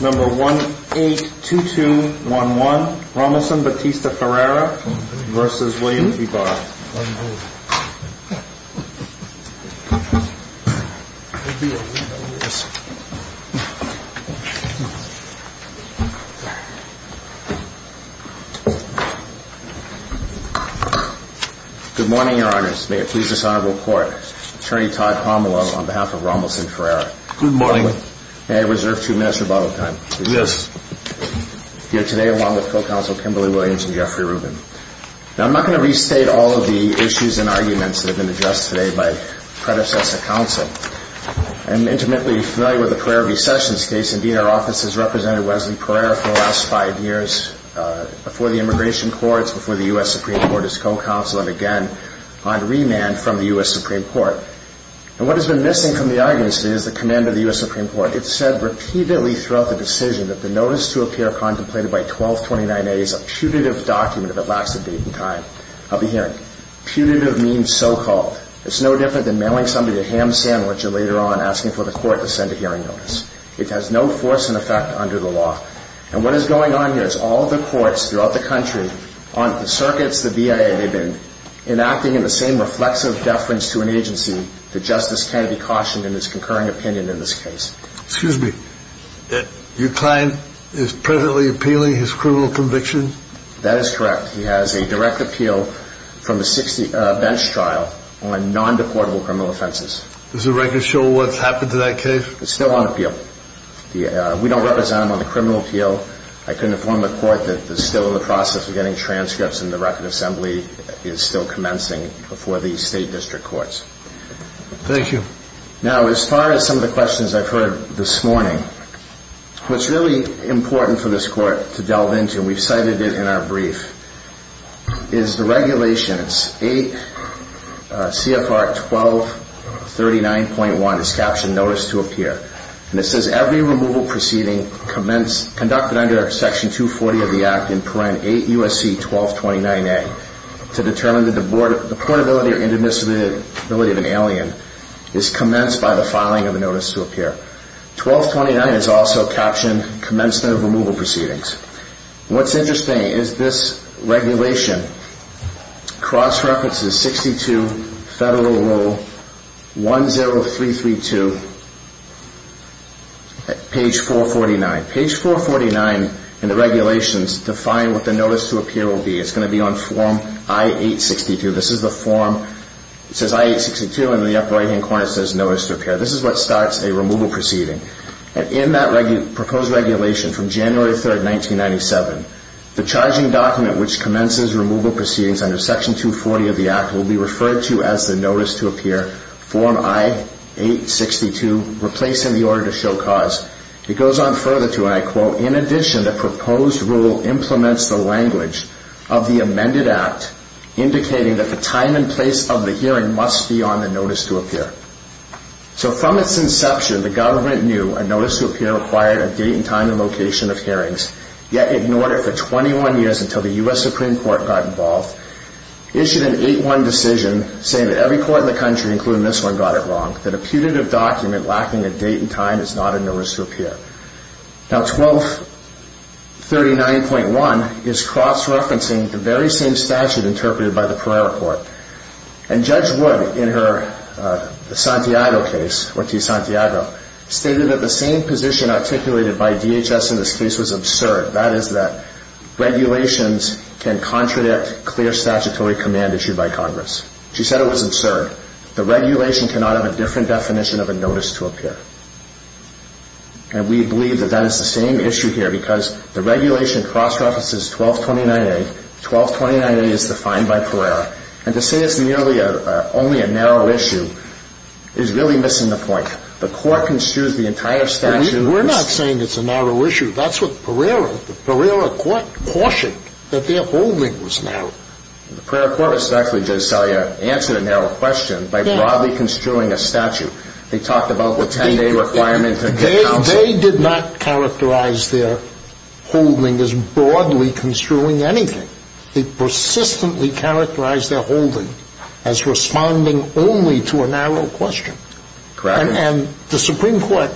182211 Rommelson-Batista Ferreira v. William B. Barr Good morning, Your Honors. May it please this Honorable Court, Attorney Todd Pomelo on behalf of Rommelson-Ferreira. Good morning. May I reserve two minutes of rebuttal time? Yes. Here today along with Co-Counsel Kimberly Williams and Jeffrey Rubin. Now, I'm not going to restate all of the issues and arguments that have been addressed today by predecessor counsel. I'm intimately familiar with the Pereira v. Sessions case. Indeed, our office has represented Wesley Pereira for the last five years before the immigration courts, before the U.S. Supreme Court as co-counsel, and again on remand from the U.S. Supreme Court. And what has been missing from the arguments today is the command of the U.S. Supreme Court. It said repeatedly throughout the decision that the notice to appear contemplated by 1229A is a putative document if it lacks the date and time of the hearing. Putative means so-called. It's no different than mailing somebody a ham sandwich and later on asking for the court to send a hearing notice. It has no force and effect under the law. And what is going on here is all the courts throughout the country, on the circuits, the Now, as far as some of the questions I've heard this morning, what's really important for this court to delve into, and we've cited it in our brief, is the regulations. 8 CFR 1239.1 is captioned Notice to Appear. And it says every removal proceeding conducted under Section 240 of the Act in Parent 8 U.S.C. 1229A to determine the deportability or intermissibility of an alien is commenced by the filing of a Notice to Appear. 1229 is also captioned Commencement of Removal Proceedings. What's interesting is this regulation cross-references 62 Federal Rule 10332 at page 449. Page 449 in the regulations define what the Notice to Appear will be. It's going to be on Form I-862. It says I-862 and in the upper right-hand corner it says Notice to Appear. This is what starts a removal proceeding. And in that proposed regulation from January 3, 1997, the charging document which commences removal proceedings under Section 240 of the Act will be referred to as the Notice to Appear, Form I-862, replacing the Order to Show Cause. Notice to Appear is a document of the amended Act indicating that the time and place of the hearing must be on the Notice to Appear. So from its inception, the government knew a Notice to Appear required a date and time and location of hearings, yet ignored it for 21 years until the U.S. Supreme Court got involved, issued an 8-1 decision saying that every court in the country, including this one, got it wrong, that a putative document lacking a date and time is not a Notice to Appear. Now 1239.1 is cross-referencing the very same statute interpreted by the Prairie Court. And Judge Wood in her Santiago case, Ortiz-Santiago, stated that the same position articulated by DHS in this case was absurd. That is that regulations can contradict clear statutory command issued by Congress. She said it was absurd. The regulation cannot have a different definition of a Notice to Appear. And we believe that that is the same issue here because the regulation cross-references 1229.8. 1229.8 is defined by Pereira. And to say it's merely only a narrow issue is really missing the point. The Court construes the entire statute as... We're not saying it's a narrow issue. That's what Pereira, the Pereira Court, cautioned, that their holding was narrow. The Pereira Court, respectfully, Judge Salier, answered a narrow question by broadly construing a statute. They talked about the 10-day requirement to get counsel. They did not characterize their holding as broadly construing anything. They persistently characterized their holding as responding only to a narrow question. Correct. And the Supreme Court,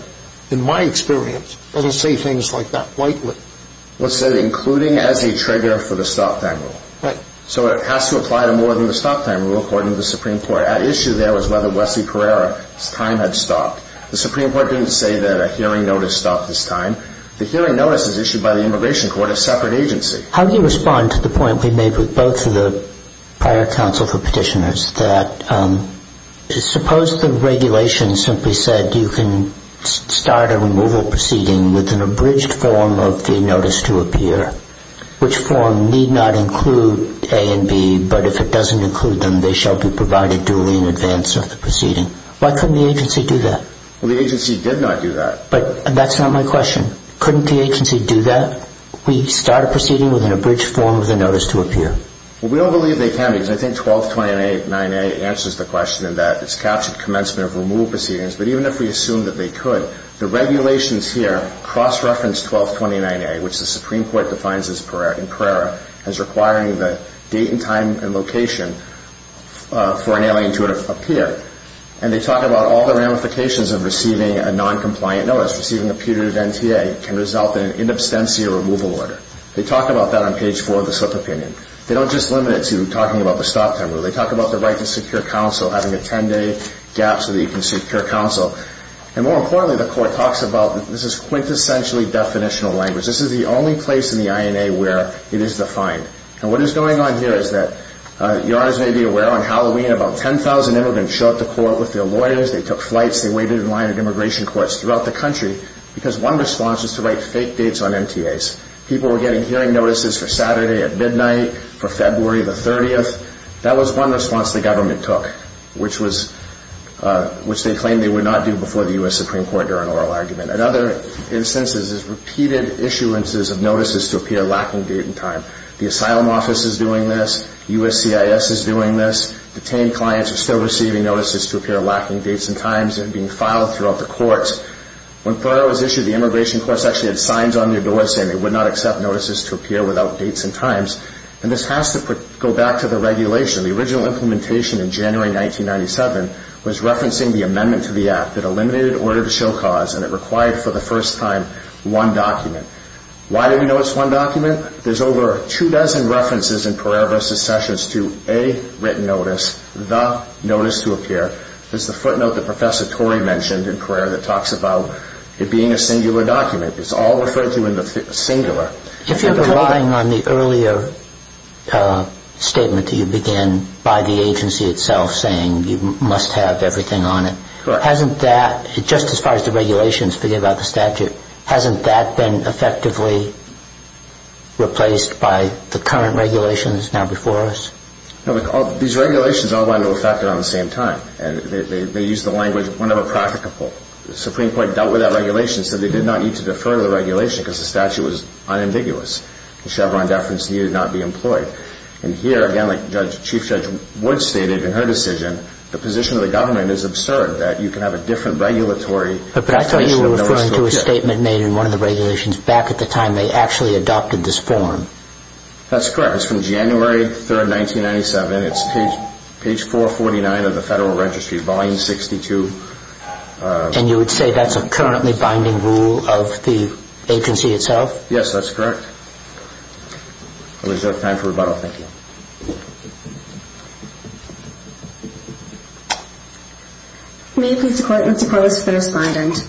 in my experience, doesn't say things like that lightly. Well, it said including as a trigger for the stop-time rule. Right. So it has to apply to more than the stop-time rule, according to the Supreme Court. The issue there was whether Wesley Pereira's time had stopped. The Supreme Court didn't say that a hearing notice stopped his time. The hearing notice is issued by the Immigration Court, a separate agency. How do you respond to the point we made with both of the prior counsel for petitioners, that suppose the regulation simply said you can start a removal proceeding with an abridged form of the notice to appear, which form need not include A and B, but if it doesn't include them, they shall be provided duly in advance of the proceeding? Why couldn't the agency do that? Well, the agency did not do that. But that's not my question. Couldn't the agency do that? We start a proceeding with an abridged form of the notice to appear. Well, we don't believe they can, because I think 1229A answers the question in that it's captured commencement of removal proceedings, but even if we assume that they could, the regulations here cross-reference 1229A, which the Supreme Court defines in Carrera as requiring the date and time and location for an alien to appear. And they talk about all the ramifications of receiving a noncompliant notice. Receiving a putative NTA can result in an in absentia removal order. They talk about that on page 4 of the slip of opinion. They don't just limit it to talking about the stop time rule. They talk about the right to secure counsel, having a 10-day gap so that you can secure counsel. And more importantly, the Court talks about this is quintessentially definitional language. This is the only place in the INA where it is defined. And what is going on here is that, Your Honor, as you may be aware, on Halloween, about 10,000 immigrants showed up to court with their lawyers. They took flights. They waited in line at immigration courts throughout the country because one response is to write fake dates on MTAs. People were getting hearing notices for Saturday at midnight, for February the 30th. That was one response the government took, which they claimed they would not do before the U.S. Supreme Court during an oral argument. Another instance is repeated issuances of notices to appear lacking date and time. The Asylum Office is doing this. USCIS is doing this. Detained clients are still receiving notices to appear lacking dates and times. They're being filed throughout the courts. When Thoreau was issued, the immigration courts actually had signs on their doors saying they would not accept notices to appear without dates and times. And this has to go back to the regulation. The original implementation in January 1997 was referencing the amendment to the Act that eliminated order to show cause and it required, for the first time, one document. Why do we know it's one document? There's over two dozen references in Pereira v. Sessions to a written notice, the notice to appear. There's the footnote that Professor Torrey mentioned in Pereira that talks about it being a singular document. It's all referred to in the singular. If you're relying on the earlier statement that you began by the agency itself saying you must have everything on it, hasn't that, just as far as the regulations, forget about the statute, hasn't that been effectively replaced by the current regulations now before us? These regulations all went into effect around the same time. They used the language whenever practicable. The Supreme Court dealt with that regulation so they did not need to defer the regulation because the statute was unambiguous. The Chevron deference needed not be employed. And here, again, like Chief Judge Wood stated in her decision, the position of the government is absurd that you can have a different regulatory... But I thought you were referring to a statement made in one of the regulations back at the time they actually adopted this form. That's correct. It's from January 3rd, 1997. It's page 449 of the Federal Registry, volume 62. And you would say that's a currently binding rule of the agency itself? Yes, that's correct. I'll reserve time for rebuttal. Thank you. May I please request for the respondent?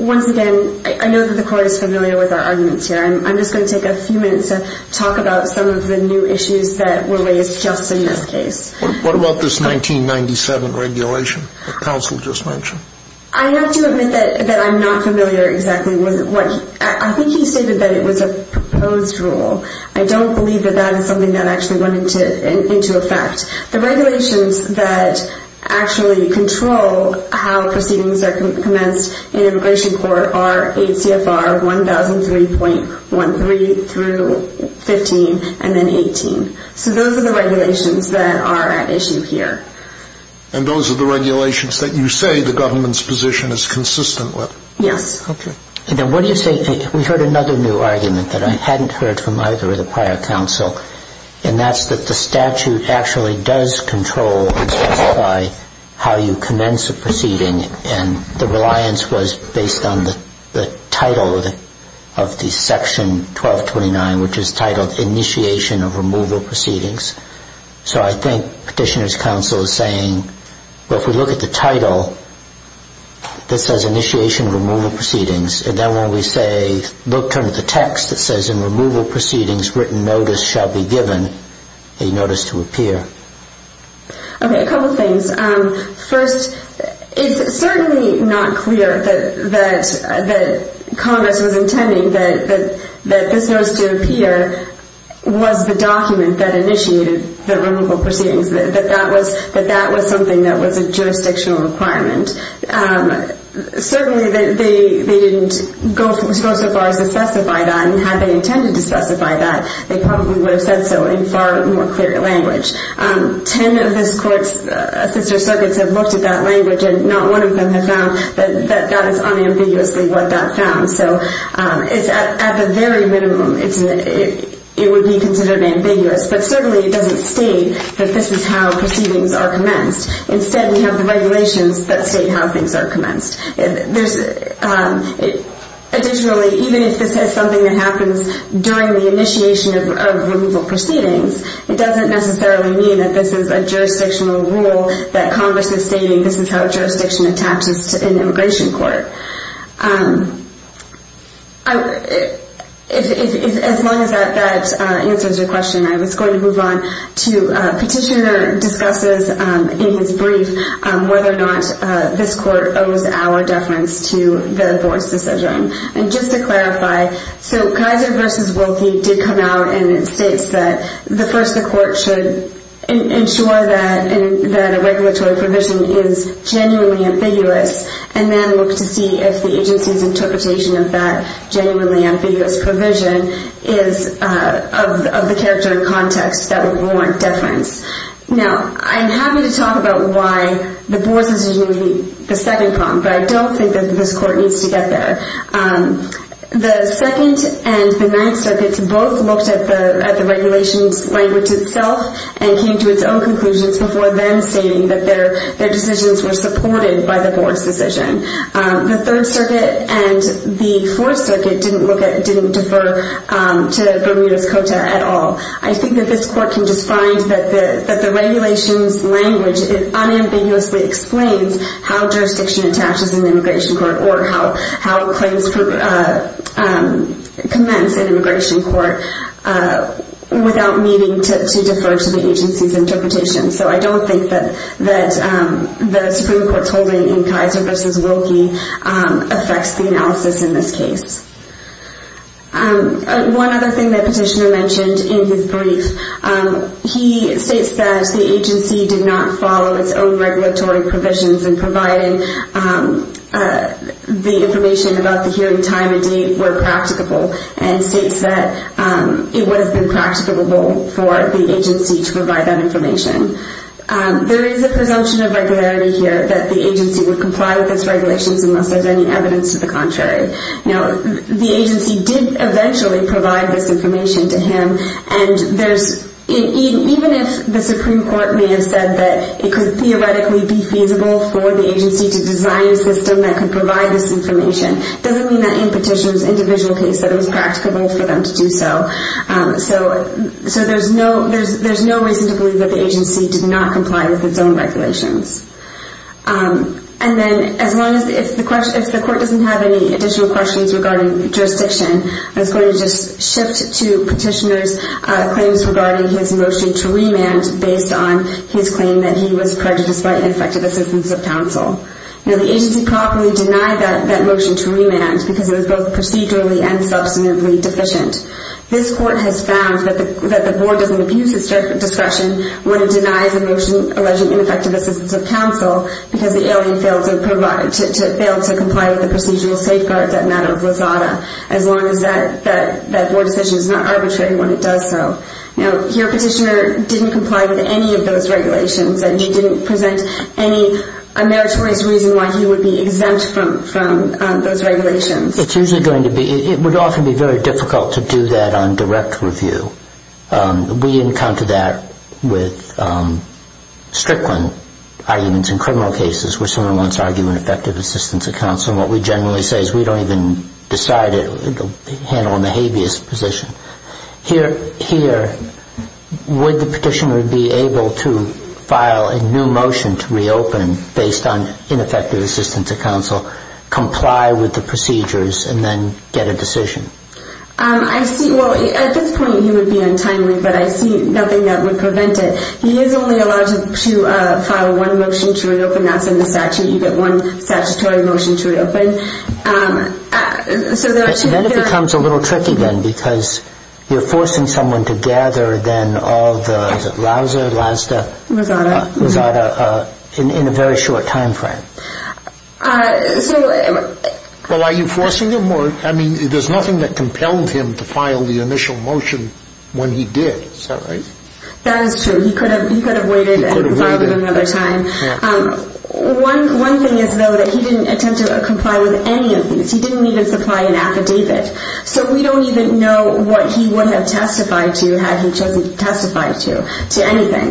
Once again, I know that the Court is familiar with our arguments here. I'm just going to take a few minutes to talk about some of the new issues that were raised just in this case. What about this 1997 regulation that counsel just mentioned? I have to admit that I'm not familiar exactly with what... I think he stated that it was a proposed rule. I don't believe that that is something that actually went into effect. The regulations that actually control how proceedings are commenced in an immigration court are ACFR 1003.13 through 15 and then 18. So those are the regulations that are at issue here. And those are the regulations that you say the government's position is consistent with? Yes. Okay. And then what do you say... We heard another new argument that I hadn't heard from either of the prior counsel. And that's that the statute actually does control and specify how you commence a proceeding. And the reliance was based on the title of the Section 1229, which is titled Initiation of Removal Proceedings. So I think Petitioner's counsel is saying, well, if we look at the title that says Initiation of Removal Proceedings, and then when we say look under the text that says In Removal Proceedings, written notice shall be given, a notice to appear. Okay. A couple things. First, it's certainly not clear that Congress was intending that this notice to appear was the document that initiated the removal proceedings, that that was something that was a jurisdictional requirement. Certainly they didn't go so far as to specify that, and had they intended to specify that, they probably would have said so in far more clear language. Ten of this Court's assister circuits have looked at that language, and not one of them have found that that is unambiguously what that found. So at the very minimum, it would be considered ambiguous. But certainly it doesn't state that this is how proceedings are commenced. Instead, we have the regulations that state how things are commenced. Additionally, even if this is something that happens during the initiation of removal proceedings, it doesn't necessarily mean that this is a jurisdictional rule that Congress is stating this is how a jurisdiction attaches to an immigration court. As long as that answers your question, I was going to move on to Petitioner discusses in his brief whether or not this Court owes our deference to the Board's decision. And just to clarify, so Kaiser v. Wilkie did come out and it states that first the Court should ensure that a regulatory provision is genuinely ambiguous, and then look to see if the agency's interpretation of that genuinely ambiguous provision is of the character and context that would warrant deference. Now, I'm happy to talk about why the Board's decision would be the second problem, but I don't think that this Court needs to get there. The Second and the Ninth Circuits both looked at the regulations language itself and came to its own conclusions before then stating that their decisions were supported by the Board's decision. The Third Circuit and the Fourth Circuit didn't defer to Bermuda's Cota at all. I think that this Court can just find that the regulations language unambiguously explains how jurisdiction attaches in immigration court or how claims commence in immigration court without needing to defer to the agency's interpretation. So I don't think that the Supreme Court's holding in Kaiser v. Wilkie affects the analysis in this case. One other thing that Petitioner mentioned in his brief, he states that the agency did not follow its own regulatory provisions in providing the information about the hearing time and date were practicable and states that it would have been practicable for the agency to provide that information. There is a presumption of regularity here that the agency would comply with its regulations unless there's any evidence to the contrary. Now, the agency did eventually provide this information to him and even if the Supreme Court may have said that it could theoretically be feasible for the agency to design a system that could provide this information, it doesn't mean that in Petitioner's individual case that it was practicable for them to do so. So there's no reason to believe that the agency did not comply with its own regulations. And then as long as the court doesn't have any additional questions regarding jurisdiction, I was going to just shift to Petitioner's claims regarding his motion to remand based on his claim that he was prejudiced by ineffective assistance of counsel. Now, the agency properly denied that motion to remand because it was both procedurally and substantively deficient. This court has found that the board doesn't abuse its discretion when it denies a motion alleging ineffective assistance of counsel because the alien failed to comply with the procedural safeguards that matter of Rosada as long as that board decision is not arbitrary when it does so. Now, here Petitioner didn't comply with any of those regulations and he didn't present any meritorious reason why he would be exempt from those regulations. It would often be very difficult to do that on direct review. We encountered that with Strickland arguments in criminal cases where someone wants to argue ineffective assistance of counsel and what we generally say is we don't even decide it. It will be handled in the habeas position. Here, would the Petitioner be able to file a new motion to reopen based on ineffective assistance of counsel, comply with the procedures, and then get a decision? At this point, he would be untimely, but I see nothing that would prevent it. He is only allowed to file one motion to reopen. That's in the statute. You get one statutory motion to reopen. Then it becomes a little tricky then because you're forcing someone to gather than all the Rausser, Lasda, Rosada in a very short time frame. Well, are you forcing him? I mean, there's nothing that compelled him to file the initial motion when he did. Is that right? That is true. He could have waited and filed it another time. One thing is, though, that he didn't attempt to comply with any of these. He didn't even supply an affidavit. So we don't even know what he would have testified to had he testified to anything.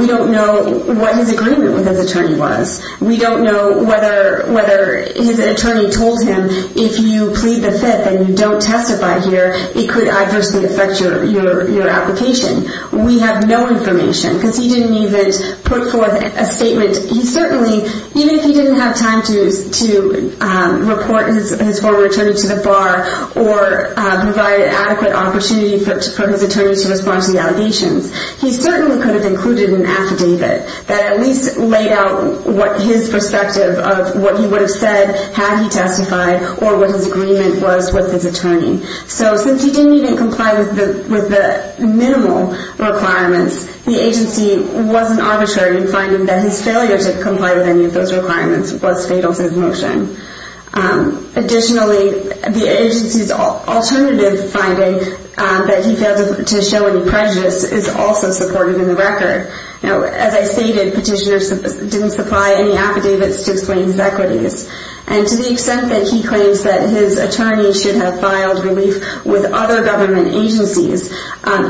We don't know what his agreement with his attorney was. We don't know whether his attorney told him if you plead the fifth and you don't testify here, it could adversely affect your application. We have no information because he didn't even put forth a statement. He certainly, even if he didn't have time to report his former attorney to the bar or provide an adequate opportunity for his attorney to respond to the allegations, he certainly could have included an affidavit that at least laid out his perspective of what he would have said had he testified or what his agreement was with his attorney. So since he didn't even comply with the minimal requirements, the agency wasn't arbitrary in finding that his failure to comply with any of those requirements was fatal to his motion. Additionally, the agency's alternative finding that he failed to show any prejudice is also supported in the record. As I stated, petitioners didn't supply any affidavits to explain his equities. And to the extent that he claims that his attorney should have filed relief with other government agencies,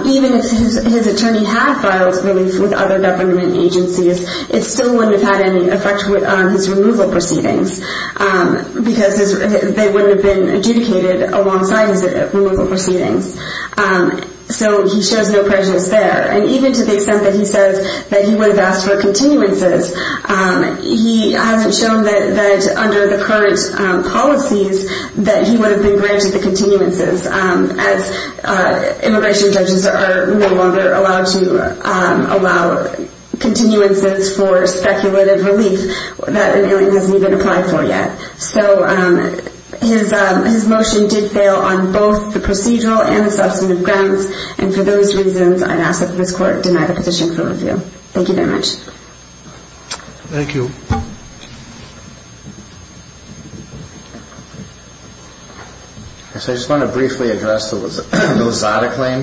even if his attorney had filed relief with other government agencies, it still wouldn't have had any effect on his removal proceedings because they wouldn't have been adjudicated alongside his removal proceedings. So he shows no prejudice there. And even to the extent that he says that he would have asked for continuances, he hasn't shown that under the current policies that he would have been granted the continuances as immigration judges are no longer allowed to allow continuances for speculative relief that an alien hasn't even applied for yet. So his motion did fail on both the procedural and the substantive grounds. And for those reasons, I'd ask that this Court deny the petition for review. Thank you very much. Thank you. I just want to briefly address the Lozada claim.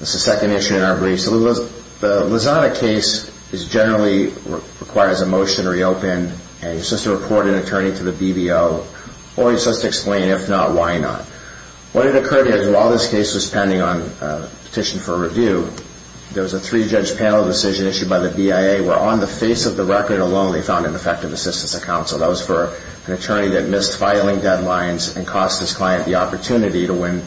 This is the second issue in our brief. The Lozada case generally requires a motion to reopen. And you're supposed to report an attorney to the BBO, or you're supposed to explain if not, why not. What had occurred is while this case was pending on petition for review, there was a three-judge panel decision issued by the BIA where on the face of the record alone they found ineffective assistance of counsel. That was for an attorney that missed filing deadlines and cost his client the opportunity to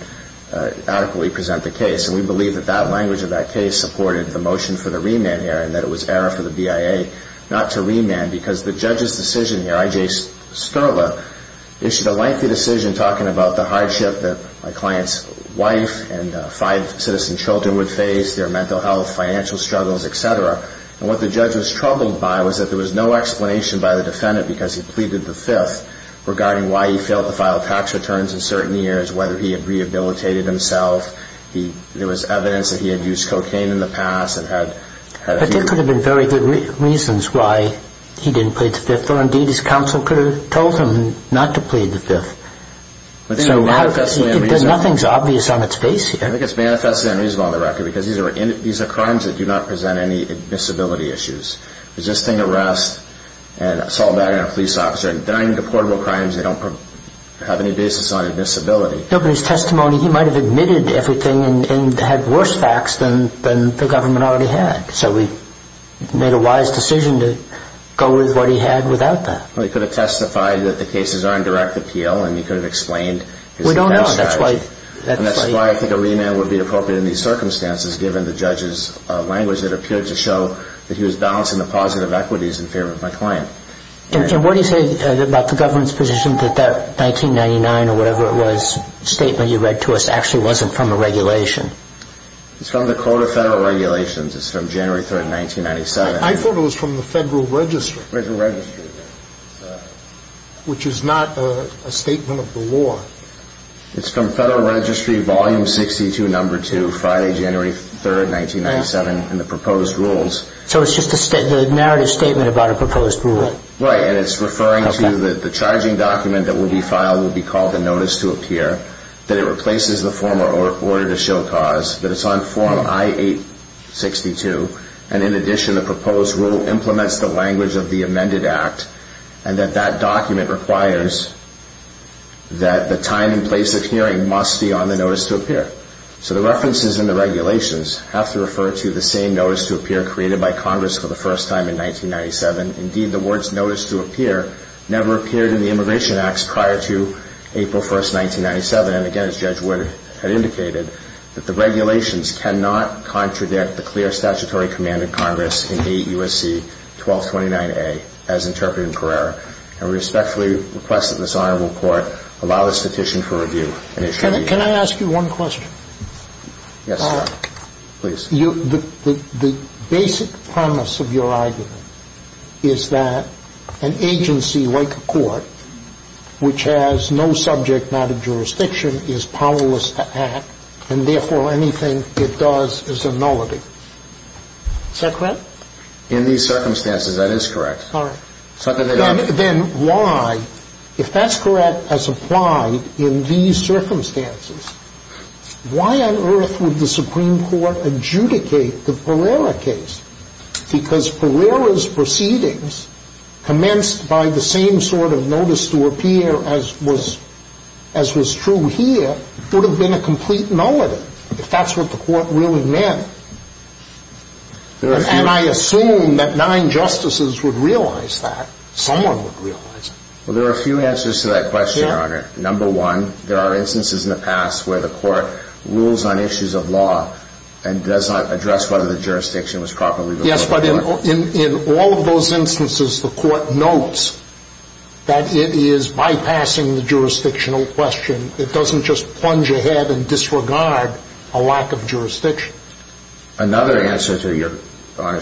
adequately present the case. And we believe that that language of that case supported the motion for the remand here and that it was error for the BIA not to remand because the judge's decision here, I.J. Sterla, issued a lengthy decision talking about the hardship that my client's wife and five citizen children would face, their mental health, financial struggles, et cetera. And what the judge was troubled by was that there was no explanation by the defendant because he pleaded the fifth regarding why he failed to file tax returns in certain years, whether he had rehabilitated himself. There was evidence that he had used cocaine in the past. But there could have been very good reasons why he didn't plead the fifth, or indeed his counsel could have told him not to plead the fifth. Nothing's obvious on its face here. I think it's manifestly unreasonable on the record because these are crimes that do not present any admissibility issues. Resisting arrest and assault on a police officer and denying deportable crimes, they don't have any basis on admissibility. No, but his testimony, he might have admitted everything and had worse facts than the government already had. So he made a wise decision to go with what he had without that. Well, he could have testified that the cases are in direct appeal and he could have explained his tax strategy. We don't know. That's why I think a remand would be appropriate in these circumstances given the judge's language that appeared to show that he was balancing the positive equities in favor of my client. And what do you say about the government's position that that 1999 or whatever it was statement you read to us actually wasn't from a regulation? It's from the Code of Federal Regulations. It's from January 3, 1997. I thought it was from the Federal Registry. Federal Registry. Which is not a statement of the law. It's from Federal Registry, Volume 62, Number 2, Friday, January 3, 1997, and the proposed rules. So it's just a narrative statement about a proposed rule. Right, and it's referring to the charging document that will be filed will be called the Notice to Appear, that it replaces the former Order to Show Cause, that it's on Form I-862, and in addition the proposed rule implements the language of the amended act and that that document requires that the time and place of hearing must be on the Notice to Appear. The statute in this case is that the Notice to Appear was created by Congress for the first time in 1997. Indeed, the words Notice to Appear never appeared in the Immigration Acts prior to April 1, 1997. And again, as Judge Wood had indicated, that the regulations cannot contradict the clear statutory command of Congress in AUSC 1229A as interpreted in Carrera. And we respectfully request that this honorable court allow this petition for review and issue a reason. Can I ask you one question? Yes, sir. Please. The basic premise of your argument is that an agency like a court which has no subject matter jurisdiction is powerless to act and therefore anything it does is a nullity. Is that correct? In these circumstances, that is correct. All right. Then why, if that's correct as applied in these circumstances, why on earth would the Supreme Court adjudicate the Carrera case? Because Carrera's proceedings commenced by the same sort of Notice to Appear as was true here would have been a complete nullity if that's what the court really meant. And I assume that nine justices would realize that. Someone would realize it. Number one, there are instances in the past where the court rules on issues of law and does not address whether the jurisdiction was properly before the court. Yes, but in all of those instances, the court notes that it is bypassing the jurisdictional question. It doesn't just plunge ahead and disregard a lack of jurisdiction. Another answer to your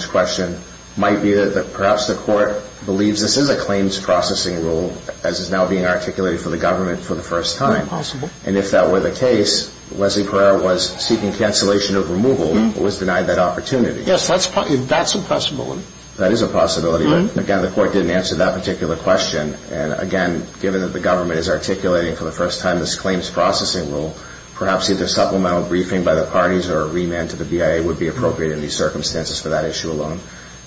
question might be that perhaps the court believes this is a claims processing rule as is now being articulated for the government for the first time. And if that were the case, Leslie Carrera was seeking cancellation of removal but was denied that opportunity. Yes, that's a possibility. That is a possibility, but again, the court didn't answer that particular question. And again, given that the government is articulating for the first time this claims processing rule, perhaps either supplemental briefing by the parties or a remand to the BIA would be appropriate in these circumstances for that issue alone.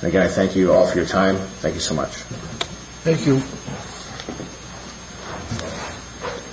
And again, I thank you all for your time. Thank you so much. Thank you. Thank you.